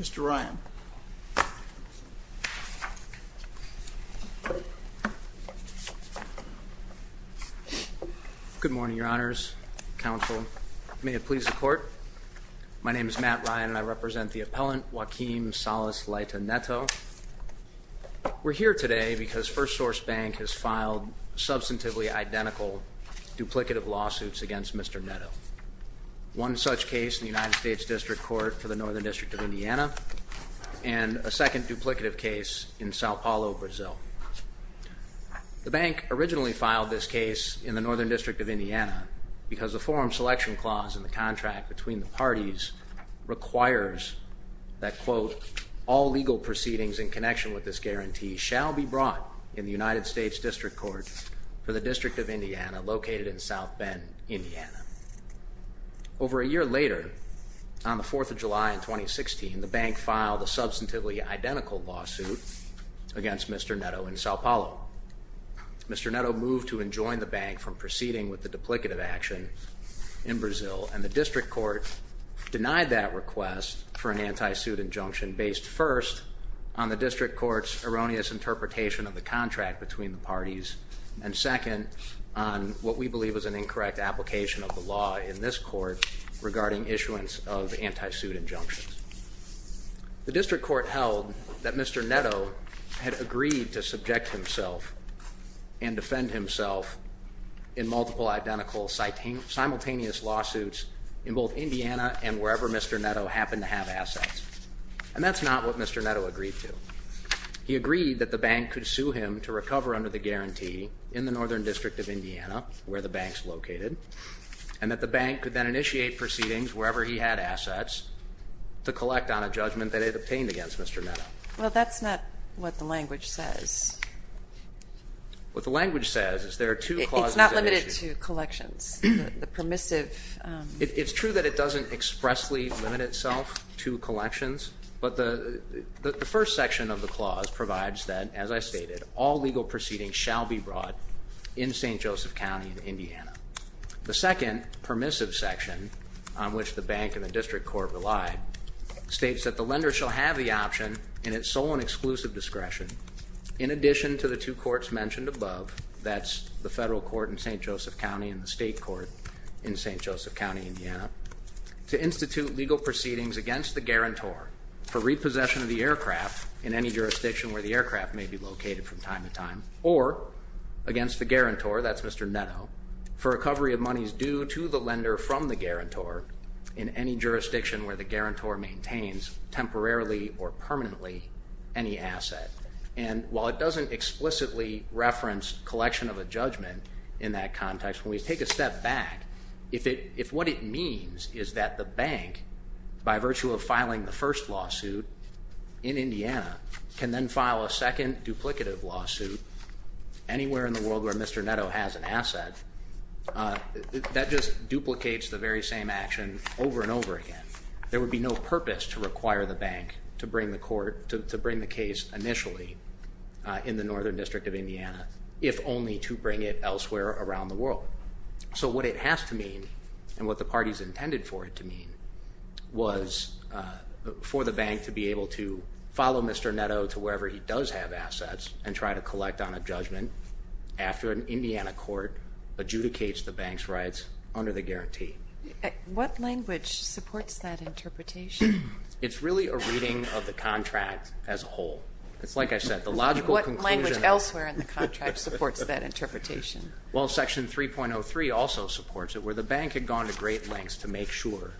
Mr. Ryan. Good morning, Your Honors, Counsel. May it please the Court. My name is Matt Ryan and I represent the appellant Joaquim Salas Leita Neto. We're here today because 1st Source Bank has filed substantively identical duplicative lawsuits against Mr. Neto. One such case in the United States District Court for the Northern District of Indiana, and a second duplicative case in Sao Paulo, Brazil. The bank originally filed this case in the Northern District of Indiana because the forum selection clause in the contract between the parties requires that, quote, Over a year later, on the 4th of July in 2016, the bank filed a substantively identical lawsuit against Mr. Neto in Sao Paulo. Mr. Neto moved to enjoin the bank from proceeding with the duplicative action in Brazil, and the District Court denied that request for an anti-suit injunction based, first, on the District Court's erroneous interpretation of the contract between the parties, and second, on what we believe is an incorrect application of the law in this court regarding issuance of anti-suit injunctions. The District Court held that Mr. Neto had agreed to subject himself and defend himself in multiple identical simultaneous lawsuits in both Indiana and wherever Mr. Neto happened to have assets. And that's not what Mr. Neto agreed to. He agreed that the bank could sue him to recover under the guarantee in the Northern District of Indiana, where the bank's located, and that the bank could then initiate proceedings wherever he had assets to collect on a judgment that it obtained against Mr. Neto. Well, that's not what the language says. What the language says is there are two clauses that issue. It's not limited to collections, the permissive. It's true that it doesn't expressly limit itself to collections, but the first section of the clause provides that, as I stated, all legal proceedings shall be brought in St. Joseph County, Indiana. The second permissive section, on which the bank and the District Court relied, states that the lender shall have the option, in its sole and exclusive discretion, in addition to the two courts mentioned above, that's the federal court in St. Joseph County and the state court in St. Joseph County, Indiana, to institute legal proceedings against the guarantor for repossession of the aircraft in any jurisdiction where the aircraft may be located from time to time, or against the guarantor, that's Mr. Neto, for recovery of monies due to the lender from the guarantor in any jurisdiction where the guarantor maintains temporarily or permanently any asset. And while it doesn't explicitly reference collection of a judgment in that context, when we take a step back, if what it means is that the bank, by virtue of filing the first lawsuit in Indiana, can then file a second duplicative lawsuit anywhere in the world where Mr. Neto has an asset, that just duplicates the very same action over and over again. There would be no purpose to require the bank to bring the case initially in the Northern District of Indiana, if only to bring it elsewhere around the world. So what it has to mean, and what the parties intended for it to mean, was for the bank to be able to follow Mr. Neto to wherever he does have assets and try to collect on a judgment after an Indiana court adjudicates the bank's rights under the guarantee. What language supports that interpretation? What language elsewhere in the contract supports that interpretation? Well, Section 3.03 also supports it, where the bank had gone to great lengths to make sure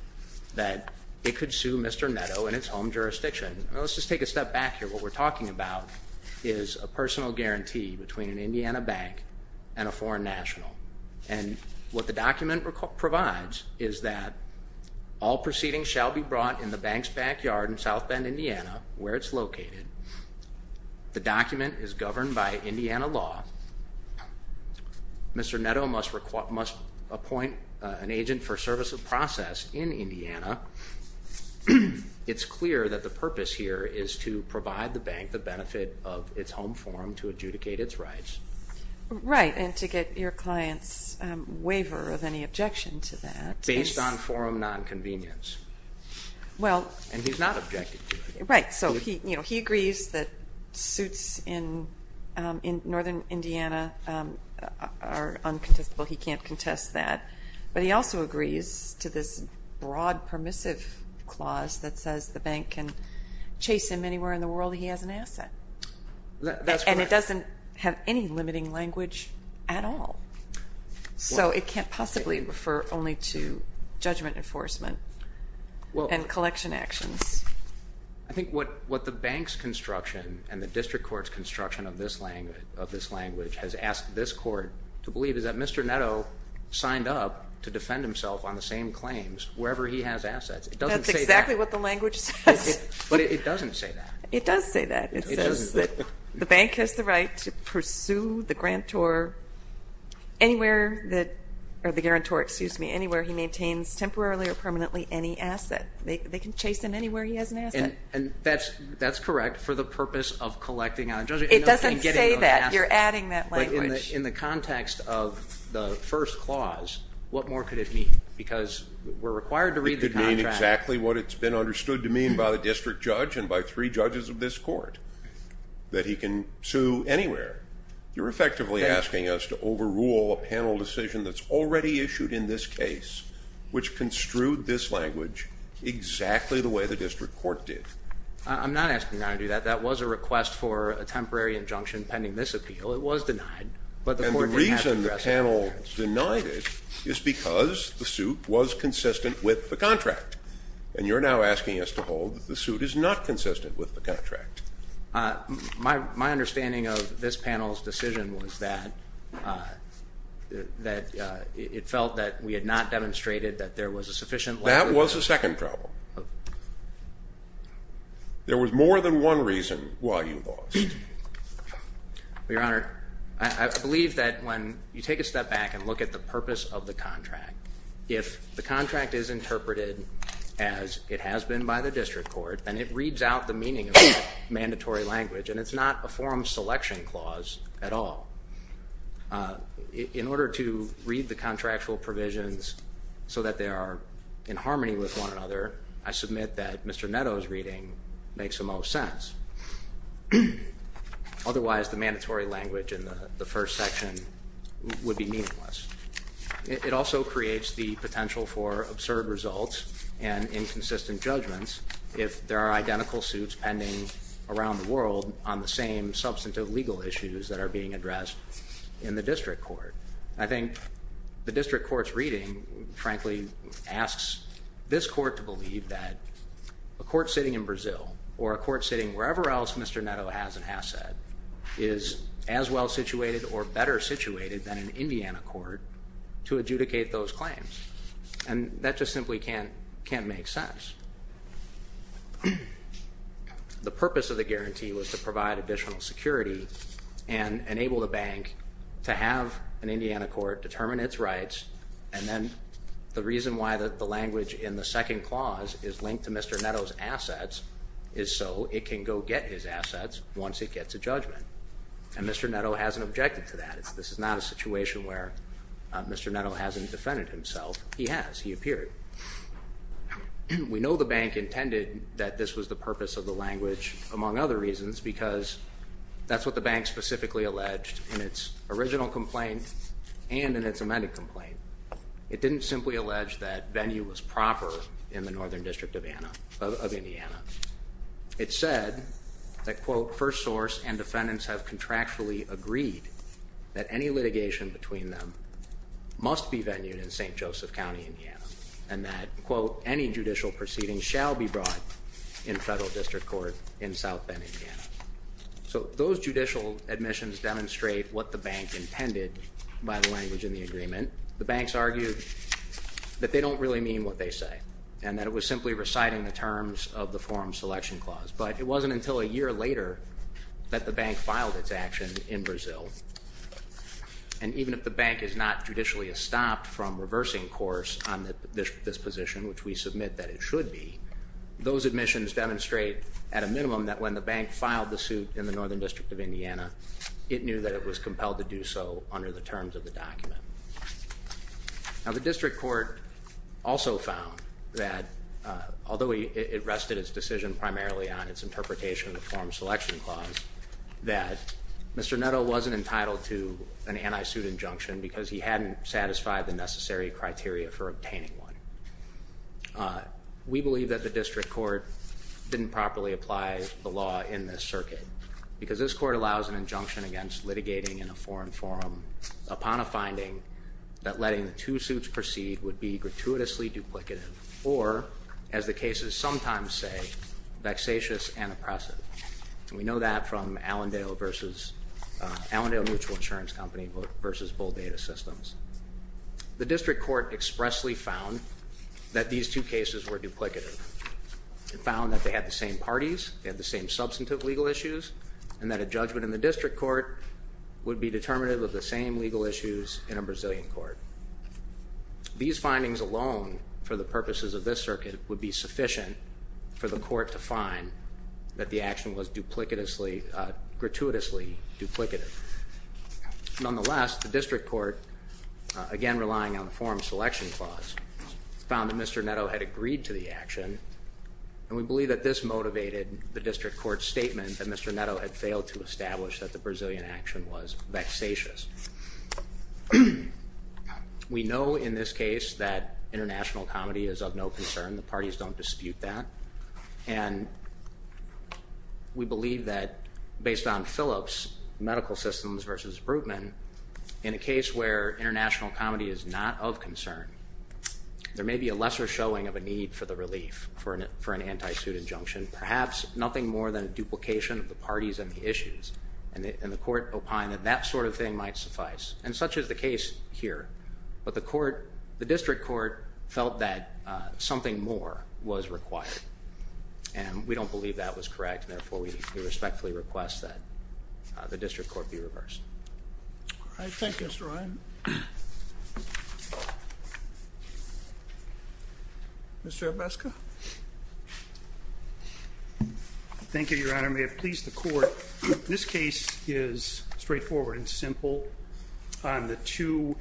that it could sue Mr. Neto in its home jurisdiction. Let's just take a step back here. What we're talking about is a personal guarantee between an Indiana bank and a foreign national. And what the document provides is that all proceedings shall be brought in the bank's backyard in South Bend, Indiana, where it's located. The document is governed by Indiana law. Mr. Neto must appoint an agent for service of process in Indiana. It's clear that the purpose here is to provide the bank the benefit of its home forum to adjudicate its rights. Right, and to get your client's waiver of any objection to that. Based on forum nonconvenience. And he's not objecting to it. Right, so he agrees that suits in northern Indiana are uncontestable. He can't contest that. But he also agrees to this broad permissive clause that says the bank can chase him anywhere in the world he has an asset. That's correct. And it doesn't have any limiting language at all. So it can't possibly refer only to judgment enforcement and collection actions. I think what the bank's construction and the district court's construction of this language has asked this court to believe is that Mr. Neto signed up to defend himself on the same claims wherever he has assets. It doesn't say that. That's exactly what the language says. But it doesn't say that. It does say that. It says that the bank has the right to pursue the grantor anywhere that, or the guarantor, excuse me, anywhere he maintains temporarily or permanently any asset. They can chase him anywhere he has an asset. And that's correct for the purpose of collecting on a judgment. It doesn't say that. You're adding that language. But in the context of the first clause, what more could it mean? Because we're required to read the contract. That's exactly what it's been understood to mean by the district judge and by three judges of this court, that he can sue anywhere. You're effectively asking us to overrule a panel decision that's already issued in this case, which construed this language exactly the way the district court did. I'm not asking you not to do that. That was a request for a temporary injunction pending this appeal. It was denied. And the reason the panel denied it is because the suit was consistent with the contract. And you're now asking us to hold that the suit is not consistent with the contract. My understanding of this panel's decision was that it felt that we had not demonstrated that there was a sufficient language. That was the second problem. There was more than one reason why you lost. Your Honor, I believe that when you take a step back and look at the purpose of the contract, if the contract is interpreted as it has been by the district court, then it reads out the meaning of mandatory language, and it's not a forum selection clause at all. In order to read the contractual provisions so that they are in harmony with one another, I submit that Mr. Netto's reading makes the most sense. Otherwise, the mandatory language in the first section would be meaningless. It also creates the potential for absurd results and inconsistent judgments if there are identical suits pending around the world on the same substantive legal issues that are being addressed in the district court. I think the district court's reading, frankly, asks this court to believe that a court sitting in Brazil or a court sitting wherever else Mr. Netto has an asset is as well-situated or better-situated than an Indiana court to adjudicate those claims. And that just simply can't make sense. The purpose of the guarantee was to provide additional security and enable the bank to have an Indiana court determine its rights, and then the reason why the language in the second clause is linked to Mr. Netto's assets is so it can go get his assets once it gets a judgment. And Mr. Netto hasn't objected to that. This is not a situation where Mr. Netto hasn't defended himself. He has. He appeared. We know the bank intended that this was the purpose of the language, among other reasons, because that's what the bank specifically alleged in its original complaint and in its amended complaint. It didn't simply allege that venue was proper in the northern district of Indiana. It said that, quote, and that, quote, So those judicial admissions demonstrate what the bank intended by the language in the agreement. The banks argued that they don't really mean what they say and that it was simply reciting the terms of the forum selection clause. But it wasn't until a year later that the bank filed its action in Brazil. And even if the bank is not judicially estopped from reversing course on this position, which we submit that it should be, those admissions demonstrate at a minimum that when the bank filed the suit in the northern district of Indiana, it knew that it was compelled to do so under the terms of the document. Now, the district court also found that, although it rested its decision primarily on its interpretation of the forum selection clause, that Mr. Netto wasn't entitled to an anti-suit injunction because he hadn't satisfied the necessary criteria for obtaining one. We believe that the district court didn't properly apply the law in this circuit because this court allows an injunction against litigating in a foreign forum upon a finding that letting the two suits proceed would be gratuitously duplicative or, as the cases sometimes say, vexatious and oppressive. And we know that from Allendale Mutual Insurance Company v. Bull Data Systems. The district court expressly found that these two cases were duplicative. It found that they had the same parties, they had the same substantive legal issues, and that a judgment in the district court would be determinative of the same legal issues in a Brazilian court. These findings alone, for the purposes of this circuit, would be sufficient for the court to find that the action was gratuitously duplicative. Nonetheless, the district court, again relying on the forum selection clause, found that Mr. Netto had agreed to the action, and we believe that this motivated the district court's statement that Mr. Netto had failed to establish that the Brazilian action was vexatious. We know in this case that international comedy is of no concern. The parties don't dispute that. And we believe that based on Phillips Medical Systems v. Brutman, in a case where international comedy is not of concern, there may be a lesser showing of a need for the relief for an anti-suit injunction, perhaps nothing more than a duplication of the parties and the issues. And the court opined that that sort of thing might suffice. And such is the case here. But the district court felt that something more was required, and we don't believe that was correct, and therefore we respectfully request that the district court be reversed. All right. Thank you, Mr. Ryan. Mr. Abeska? Thank you, Your Honor. I may have pleased the court. This case is straightforward and simple on the two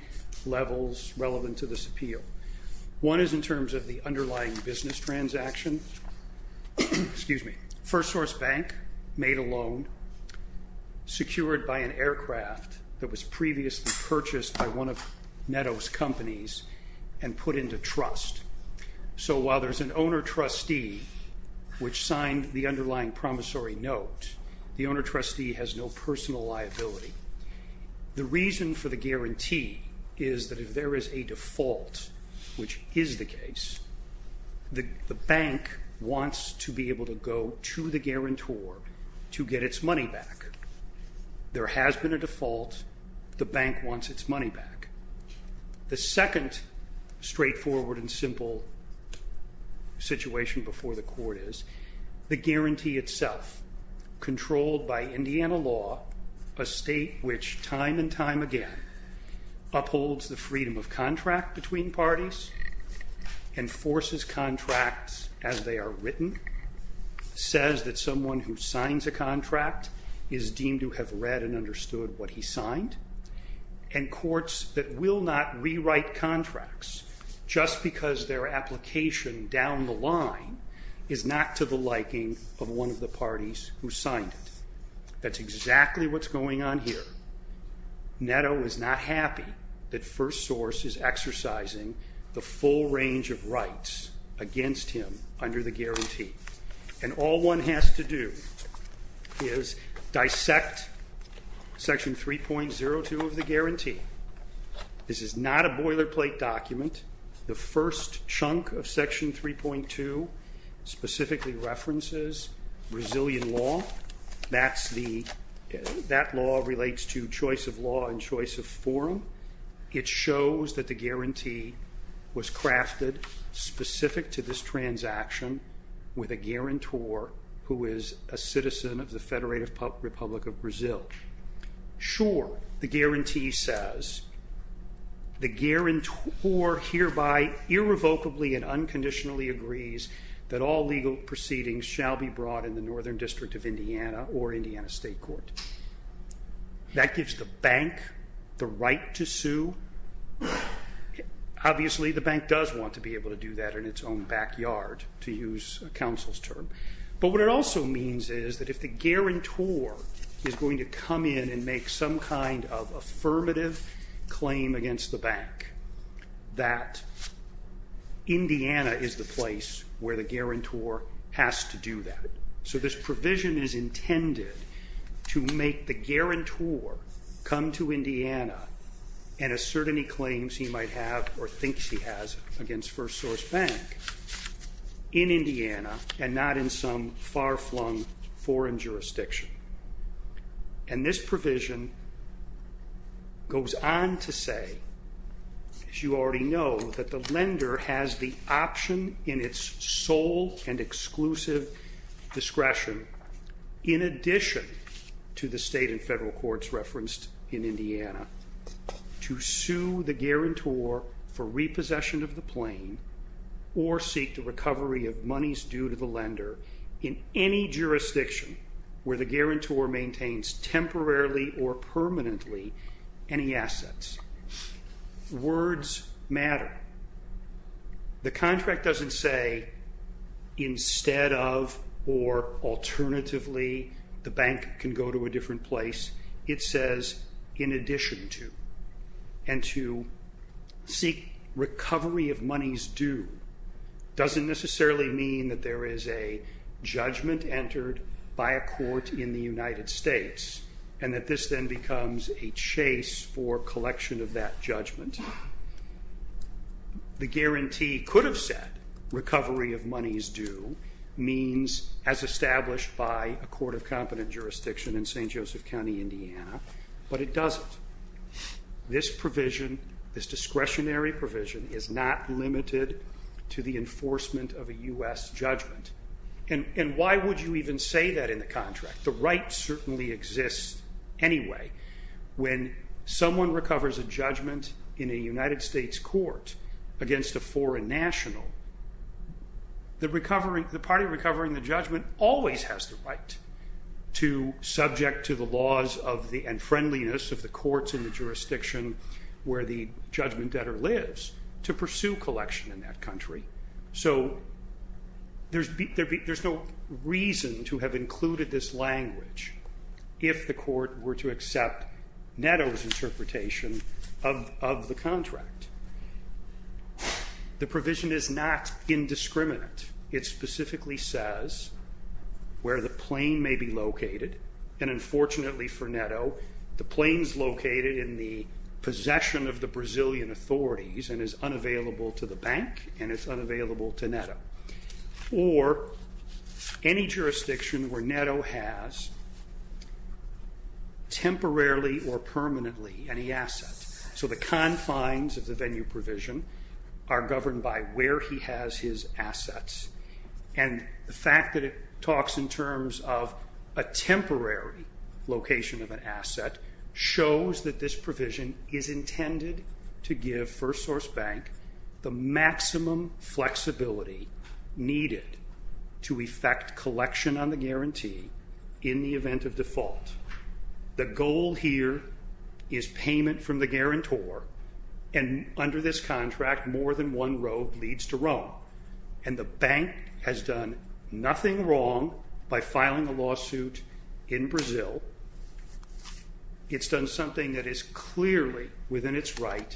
levels relevant to this appeal. One is in terms of the underlying business transaction. Excuse me. First source bank made a loan secured by an aircraft that was previously purchased by one of Netto's companies and put into trust. So while there's an owner-trustee which signed the underlying promissory note, the owner-trustee has no personal liability. The reason for the guarantee is that if there is a default, which is the case, the bank wants to be able to go to the guarantor to get its money back. There has been a default. The bank wants its money back. The second straightforward and simple situation before the court is the guarantee itself, controlled by Indiana law, a state which time and time again upholds the freedom of contract between parties and forces contracts as they are written, says that someone who signs a contract is deemed to have read and understood what he signed, and courts that will not rewrite contracts just because their application down the line is not to the liking of one of the parties who signed it. That's exactly what's going on here. Netto is not happy that first source is exercising the full range of rights against him under the guarantee. And all one has to do is dissect Section 3.02 of the guarantee. This is not a boilerplate document. The first chunk of Section 3.2 specifically references Brazilian law. That law relates to choice of law and choice of forum. It shows that the guarantee was crafted specific to this transaction with a guarantor who is a citizen of the Federated Republic of Brazil. Sure, the guarantee says, the guarantor hereby irrevocably and unconditionally agrees that all legal proceedings shall be brought in the Northern District of Indiana or Indiana State Court. That gives the bank the right to sue. Obviously the bank does want to be able to do that in its own backyard, to use counsel's term. But what it also means is that if the guarantor is going to come in and make some kind of affirmative claim against the bank, that Indiana is the place where the guarantor has to do that. So this provision is intended to make the guarantor come to Indiana and assert any claims he might have or thinks he has against FirstSource Bank in Indiana and not in some far-flung foreign jurisdiction. And this provision goes on to say, as you already know, that the lender has the option in its sole and exclusive discretion, in addition to the state and federal courts referenced in Indiana, to sue the guarantor for repossession of the plane or seek the recovery of monies due to the lender in any jurisdiction where the guarantor maintains temporarily or permanently any assets. Words matter. The contract doesn't say, instead of or alternatively the bank can go to a different place. It says, in addition to. And to seek recovery of monies due doesn't necessarily mean that there is a judgment entered by a court in the United States and that this then becomes a chase for collection of that judgment. The guarantee could have said, recovery of monies due, means as established by a court of competent jurisdiction in St. Joseph County, Indiana, but it doesn't. This provision, this discretionary provision, is not limited to the enforcement of a U.S. judgment. And why would you even say that in the contract? The right certainly exists anyway. When someone recovers a judgment in a United States court against a foreign national, the party recovering the judgment always has the right to, subject to the laws and friendliness of the courts in the jurisdiction where the judgment debtor lives, to pursue collection in that country. So there's no reason to have included this language if the court were to accept Netto's interpretation of the contract. The provision is not indiscriminate. It specifically says where the plane may be located. And unfortunately for Netto, the plane's located in the possession of the Brazilian authorities and is unavailable to the bank and is unavailable to Netto. Or any jurisdiction where Netto has temporarily or permanently any assets. So the confines of the venue provision are governed by where he has his assets. And the fact that it talks in terms of a temporary location of an asset shows that this provision is intended to give FirstSource Bank the maximum flexibility needed to effect collection on the guarantee in the event of default. The goal here is payment from the guarantor, and under this contract more than one road leads to Rome. And the bank has done nothing wrong by filing a lawsuit in Brazil It's done something that is clearly within its right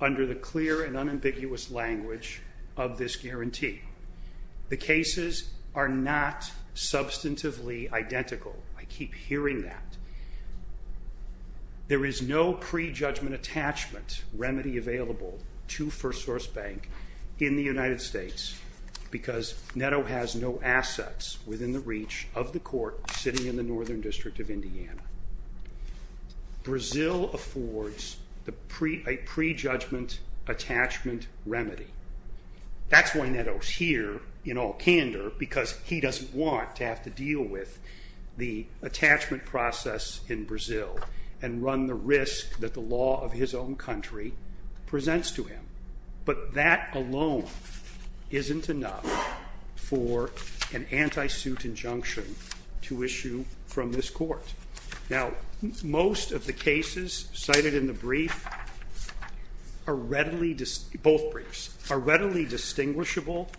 under the clear and unambiguous language of this guarantee. The cases are not substantively identical. I keep hearing that. There is no pre-judgment attachment remedy available to FirstSource Bank in the United States because Netto has no assets within the reach of the court sitting in the Northern District of Indiana. Brazil affords a pre-judgment attachment remedy. That's why Netto's here, in all candor, because he doesn't want to have to deal with the attachment process in Brazil and run the risk that the law of his own country presents to him. But that alone isn't enough for an anti-suit injunction to issue from this court. Now, most of the cases cited in the brief, both briefs, are readily distinguishable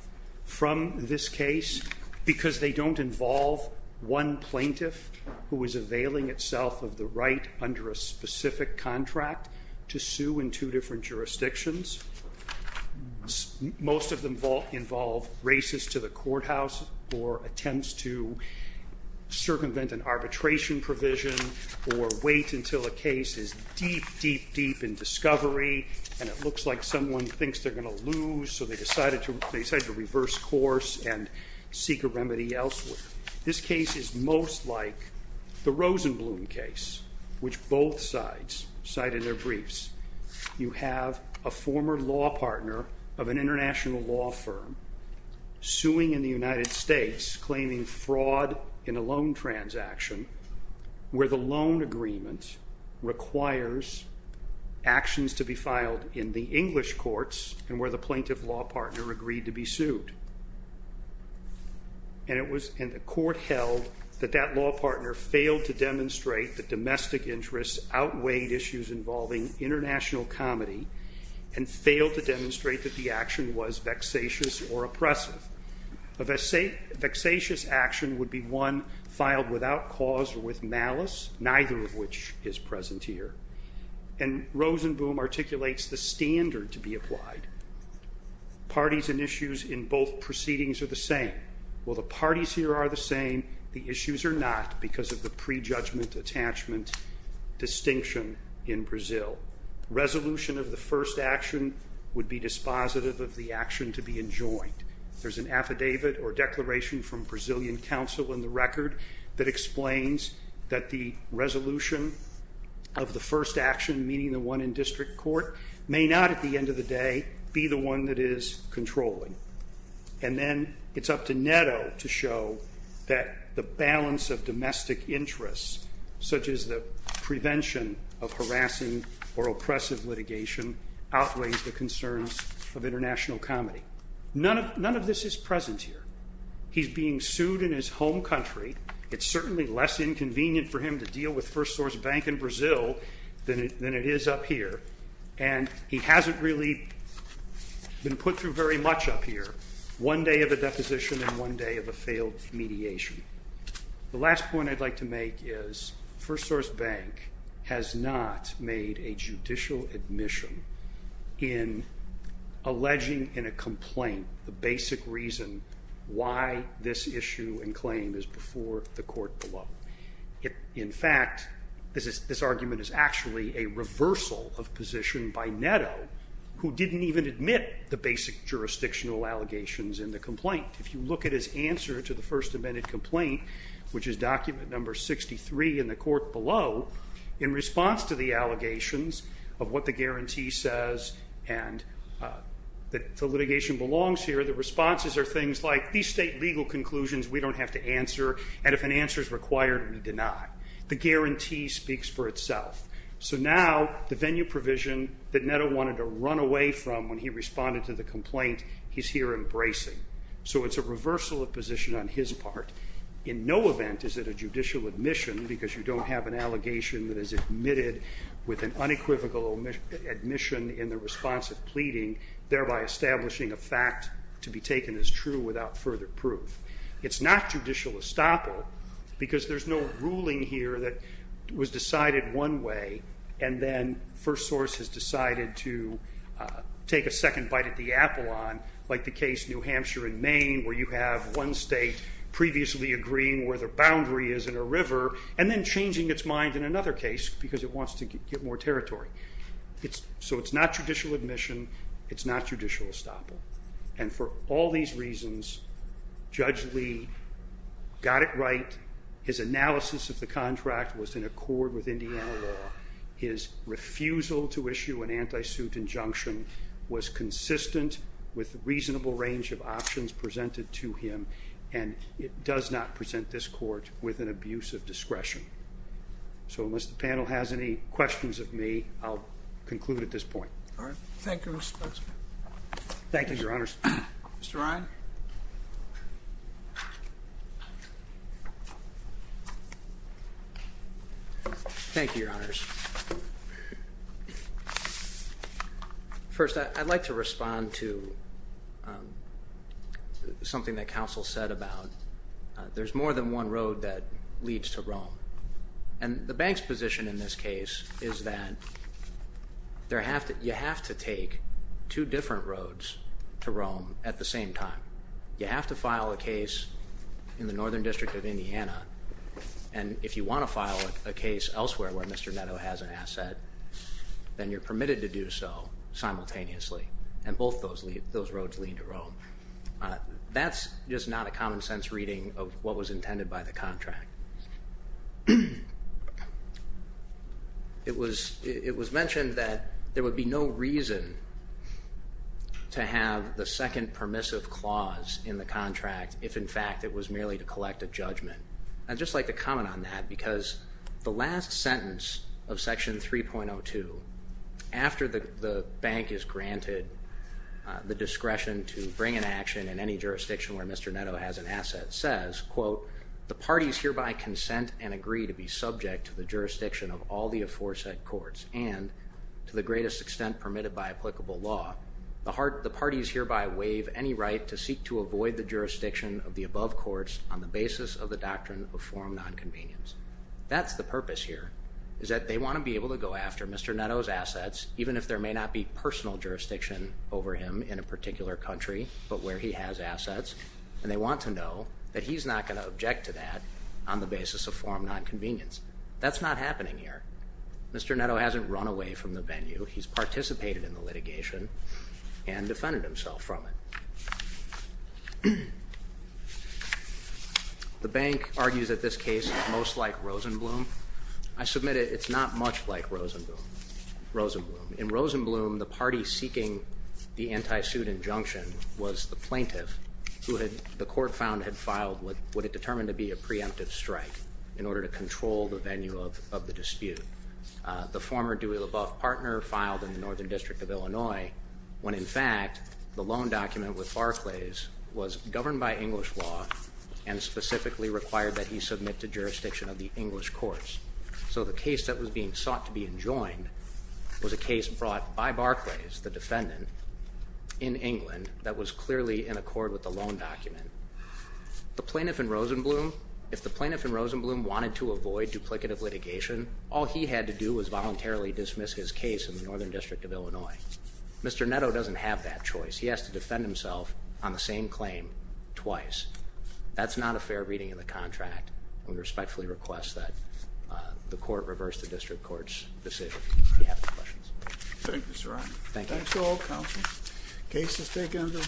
from this case because they don't involve one plaintiff who is availing itself of the right under a specific contract to sue in two different jurisdictions. Most of them involve races to the courthouse or attempts to circumvent an arbitration provision or wait until a case is deep, deep, deep in discovery and it looks like someone thinks they're going to lose so they decide to reverse course and seek a remedy elsewhere. This case is most like the Rosenblum case, which both sides cite in their briefs. You have a former law partner of an international law firm suing in the United States, claiming fraud in a loan transaction where the loan agreement requires actions to be filed in the English courts and where the plaintiff law partner agreed to be sued. outweighed issues involving international comedy and failed to demonstrate that the action was vexatious or oppressive. A vexatious action would be one filed without cause or with malice, neither of which is present here. And Rosenblum articulates the standard to be applied. Parties and issues in both proceedings are the same. While the parties here are the same, the issues are not because of the prejudgment-attachment distinction in Brazil. Resolution of the first action would be dispositive of the action to be enjoined. There's an affidavit or declaration from Brazilian counsel in the record that explains that the resolution of the first action, meaning the one in district court, may not at the end of the day be the one that is controlling. And then it's up to Netto to show that the balance of domestic interests, such as the prevention of harassing or oppressive litigation, outweighs the concerns of international comedy. None of this is present here. He's being sued in his home country. It's certainly less inconvenient for him to deal with First Source Bank in Brazil than it is up here. And he hasn't really been put through very much up here. One day of a deposition and one day of a failed mediation. The last point I'd like to make is First Source Bank has not made a judicial admission in alleging in a complaint the basic reason why this issue and claim is before the court below. In fact, this argument is actually a reversal of position by Netto, who didn't even admit the basic jurisdictional allegations in the complaint. If you look at his answer to the first amended complaint, which is document number 63 in the court below, in response to the allegations of what the guarantee says and that the litigation belongs here, the responses are things like these state legal conclusions we don't have to answer and if an answer is required, we deny. The guarantee speaks for itself. So now the venue provision that Netto wanted to run away from when he responded to the complaint, he's here embracing. So it's a reversal of position on his part. In no event is it a judicial admission because you don't have an allegation that is admitted with an unequivocal admission in the response of pleading, thereby establishing a fact to be taken as true without further proof. It's not judicial estoppel because there's no ruling here that was decided one way and then first source has decided to take a second bite at the apple on, like the case New Hampshire and Maine where you have one state previously agreeing where the boundary is in a river and then changing its mind in another case because it wants to get more territory. So it's not judicial admission. It's not judicial estoppel. And for all these reasons, Judge Lee got it right. His analysis of the contract was in accord with Indiana law. His refusal to issue an anti-suit injunction was consistent with the reasonable range of options presented to him and it does not present this court with an abuse of discretion. So unless the panel has any questions of me, I'll conclude at this point. Thank you, Mr. Spence. Thank you, Your Honors. Mr. Ryan. Thank you, Your Honors. First, I'd like to respond to something that counsel said about there's more than one road that leads to Rome. And the bank's position in this case is that you have to take two different roads to Rome at the same time. You have to file a case in the Northern District of Indiana and if you want to file a case elsewhere where Mr. Netto has an asset, then you're permitted to do so simultaneously. And both those roads lead to Rome. That's just not a common sense reading of what was intended by the contract. It was mentioned that there would be no reason to have the second permissive clause in the contract if, in fact, it was merely to collect a judgment. I'd just like to comment on that because the last sentence of Section 3.02, after the bank is granted the discretion to bring an action in any jurisdiction where Mr. Netto has an asset, says, quote, the parties hereby consent and agree to be subject to the jurisdiction of all the aforesaid courts and, to the greatest extent permitted by applicable law, the parties hereby waive any right to seek to avoid the jurisdiction of the above courts on the basis of the doctrine of forum nonconvenience. That's the purpose here is that they want to be able to go after Mr. Netto's assets even if there may not be personal jurisdiction over him in a particular country but where he has assets. And they want to know that he's not going to object to that on the basis of forum nonconvenience. That's not happening here. Mr. Netto hasn't run away from the venue. He's participated in the litigation and defended himself from it. The bank argues that this case is most like Rosenblum. I submit it's not much like Rosenblum. In Rosenblum, the party seeking the anti-suit injunction was the plaintiff who the court found had filed what it determined to be a preemptive strike in order to control the venue of the dispute. The former Dewey LaBeouf partner filed in the Northern District of Illinois when, in fact, the loan document with Barclays was governed by English law and specifically required that he submit to jurisdiction of the English courts. So the case that was being sought to be enjoined was a case brought by Barclays, the defendant, in England that was clearly in accord with the loan document. The plaintiff in Rosenblum, if the plaintiff in Rosenblum wanted to avoid duplicative litigation, all he had to do was voluntarily dismiss his case in the Northern District of Illinois. Mr. Netto doesn't have that choice. He has to defend himself on the same claim twice. That's not a fair reading of the contract, and we respectfully request that the court reverse the district court's decision. If you have any questions. Thank you, Mr. Ryan. Thank you. Thanks to all counselors. Case is taken under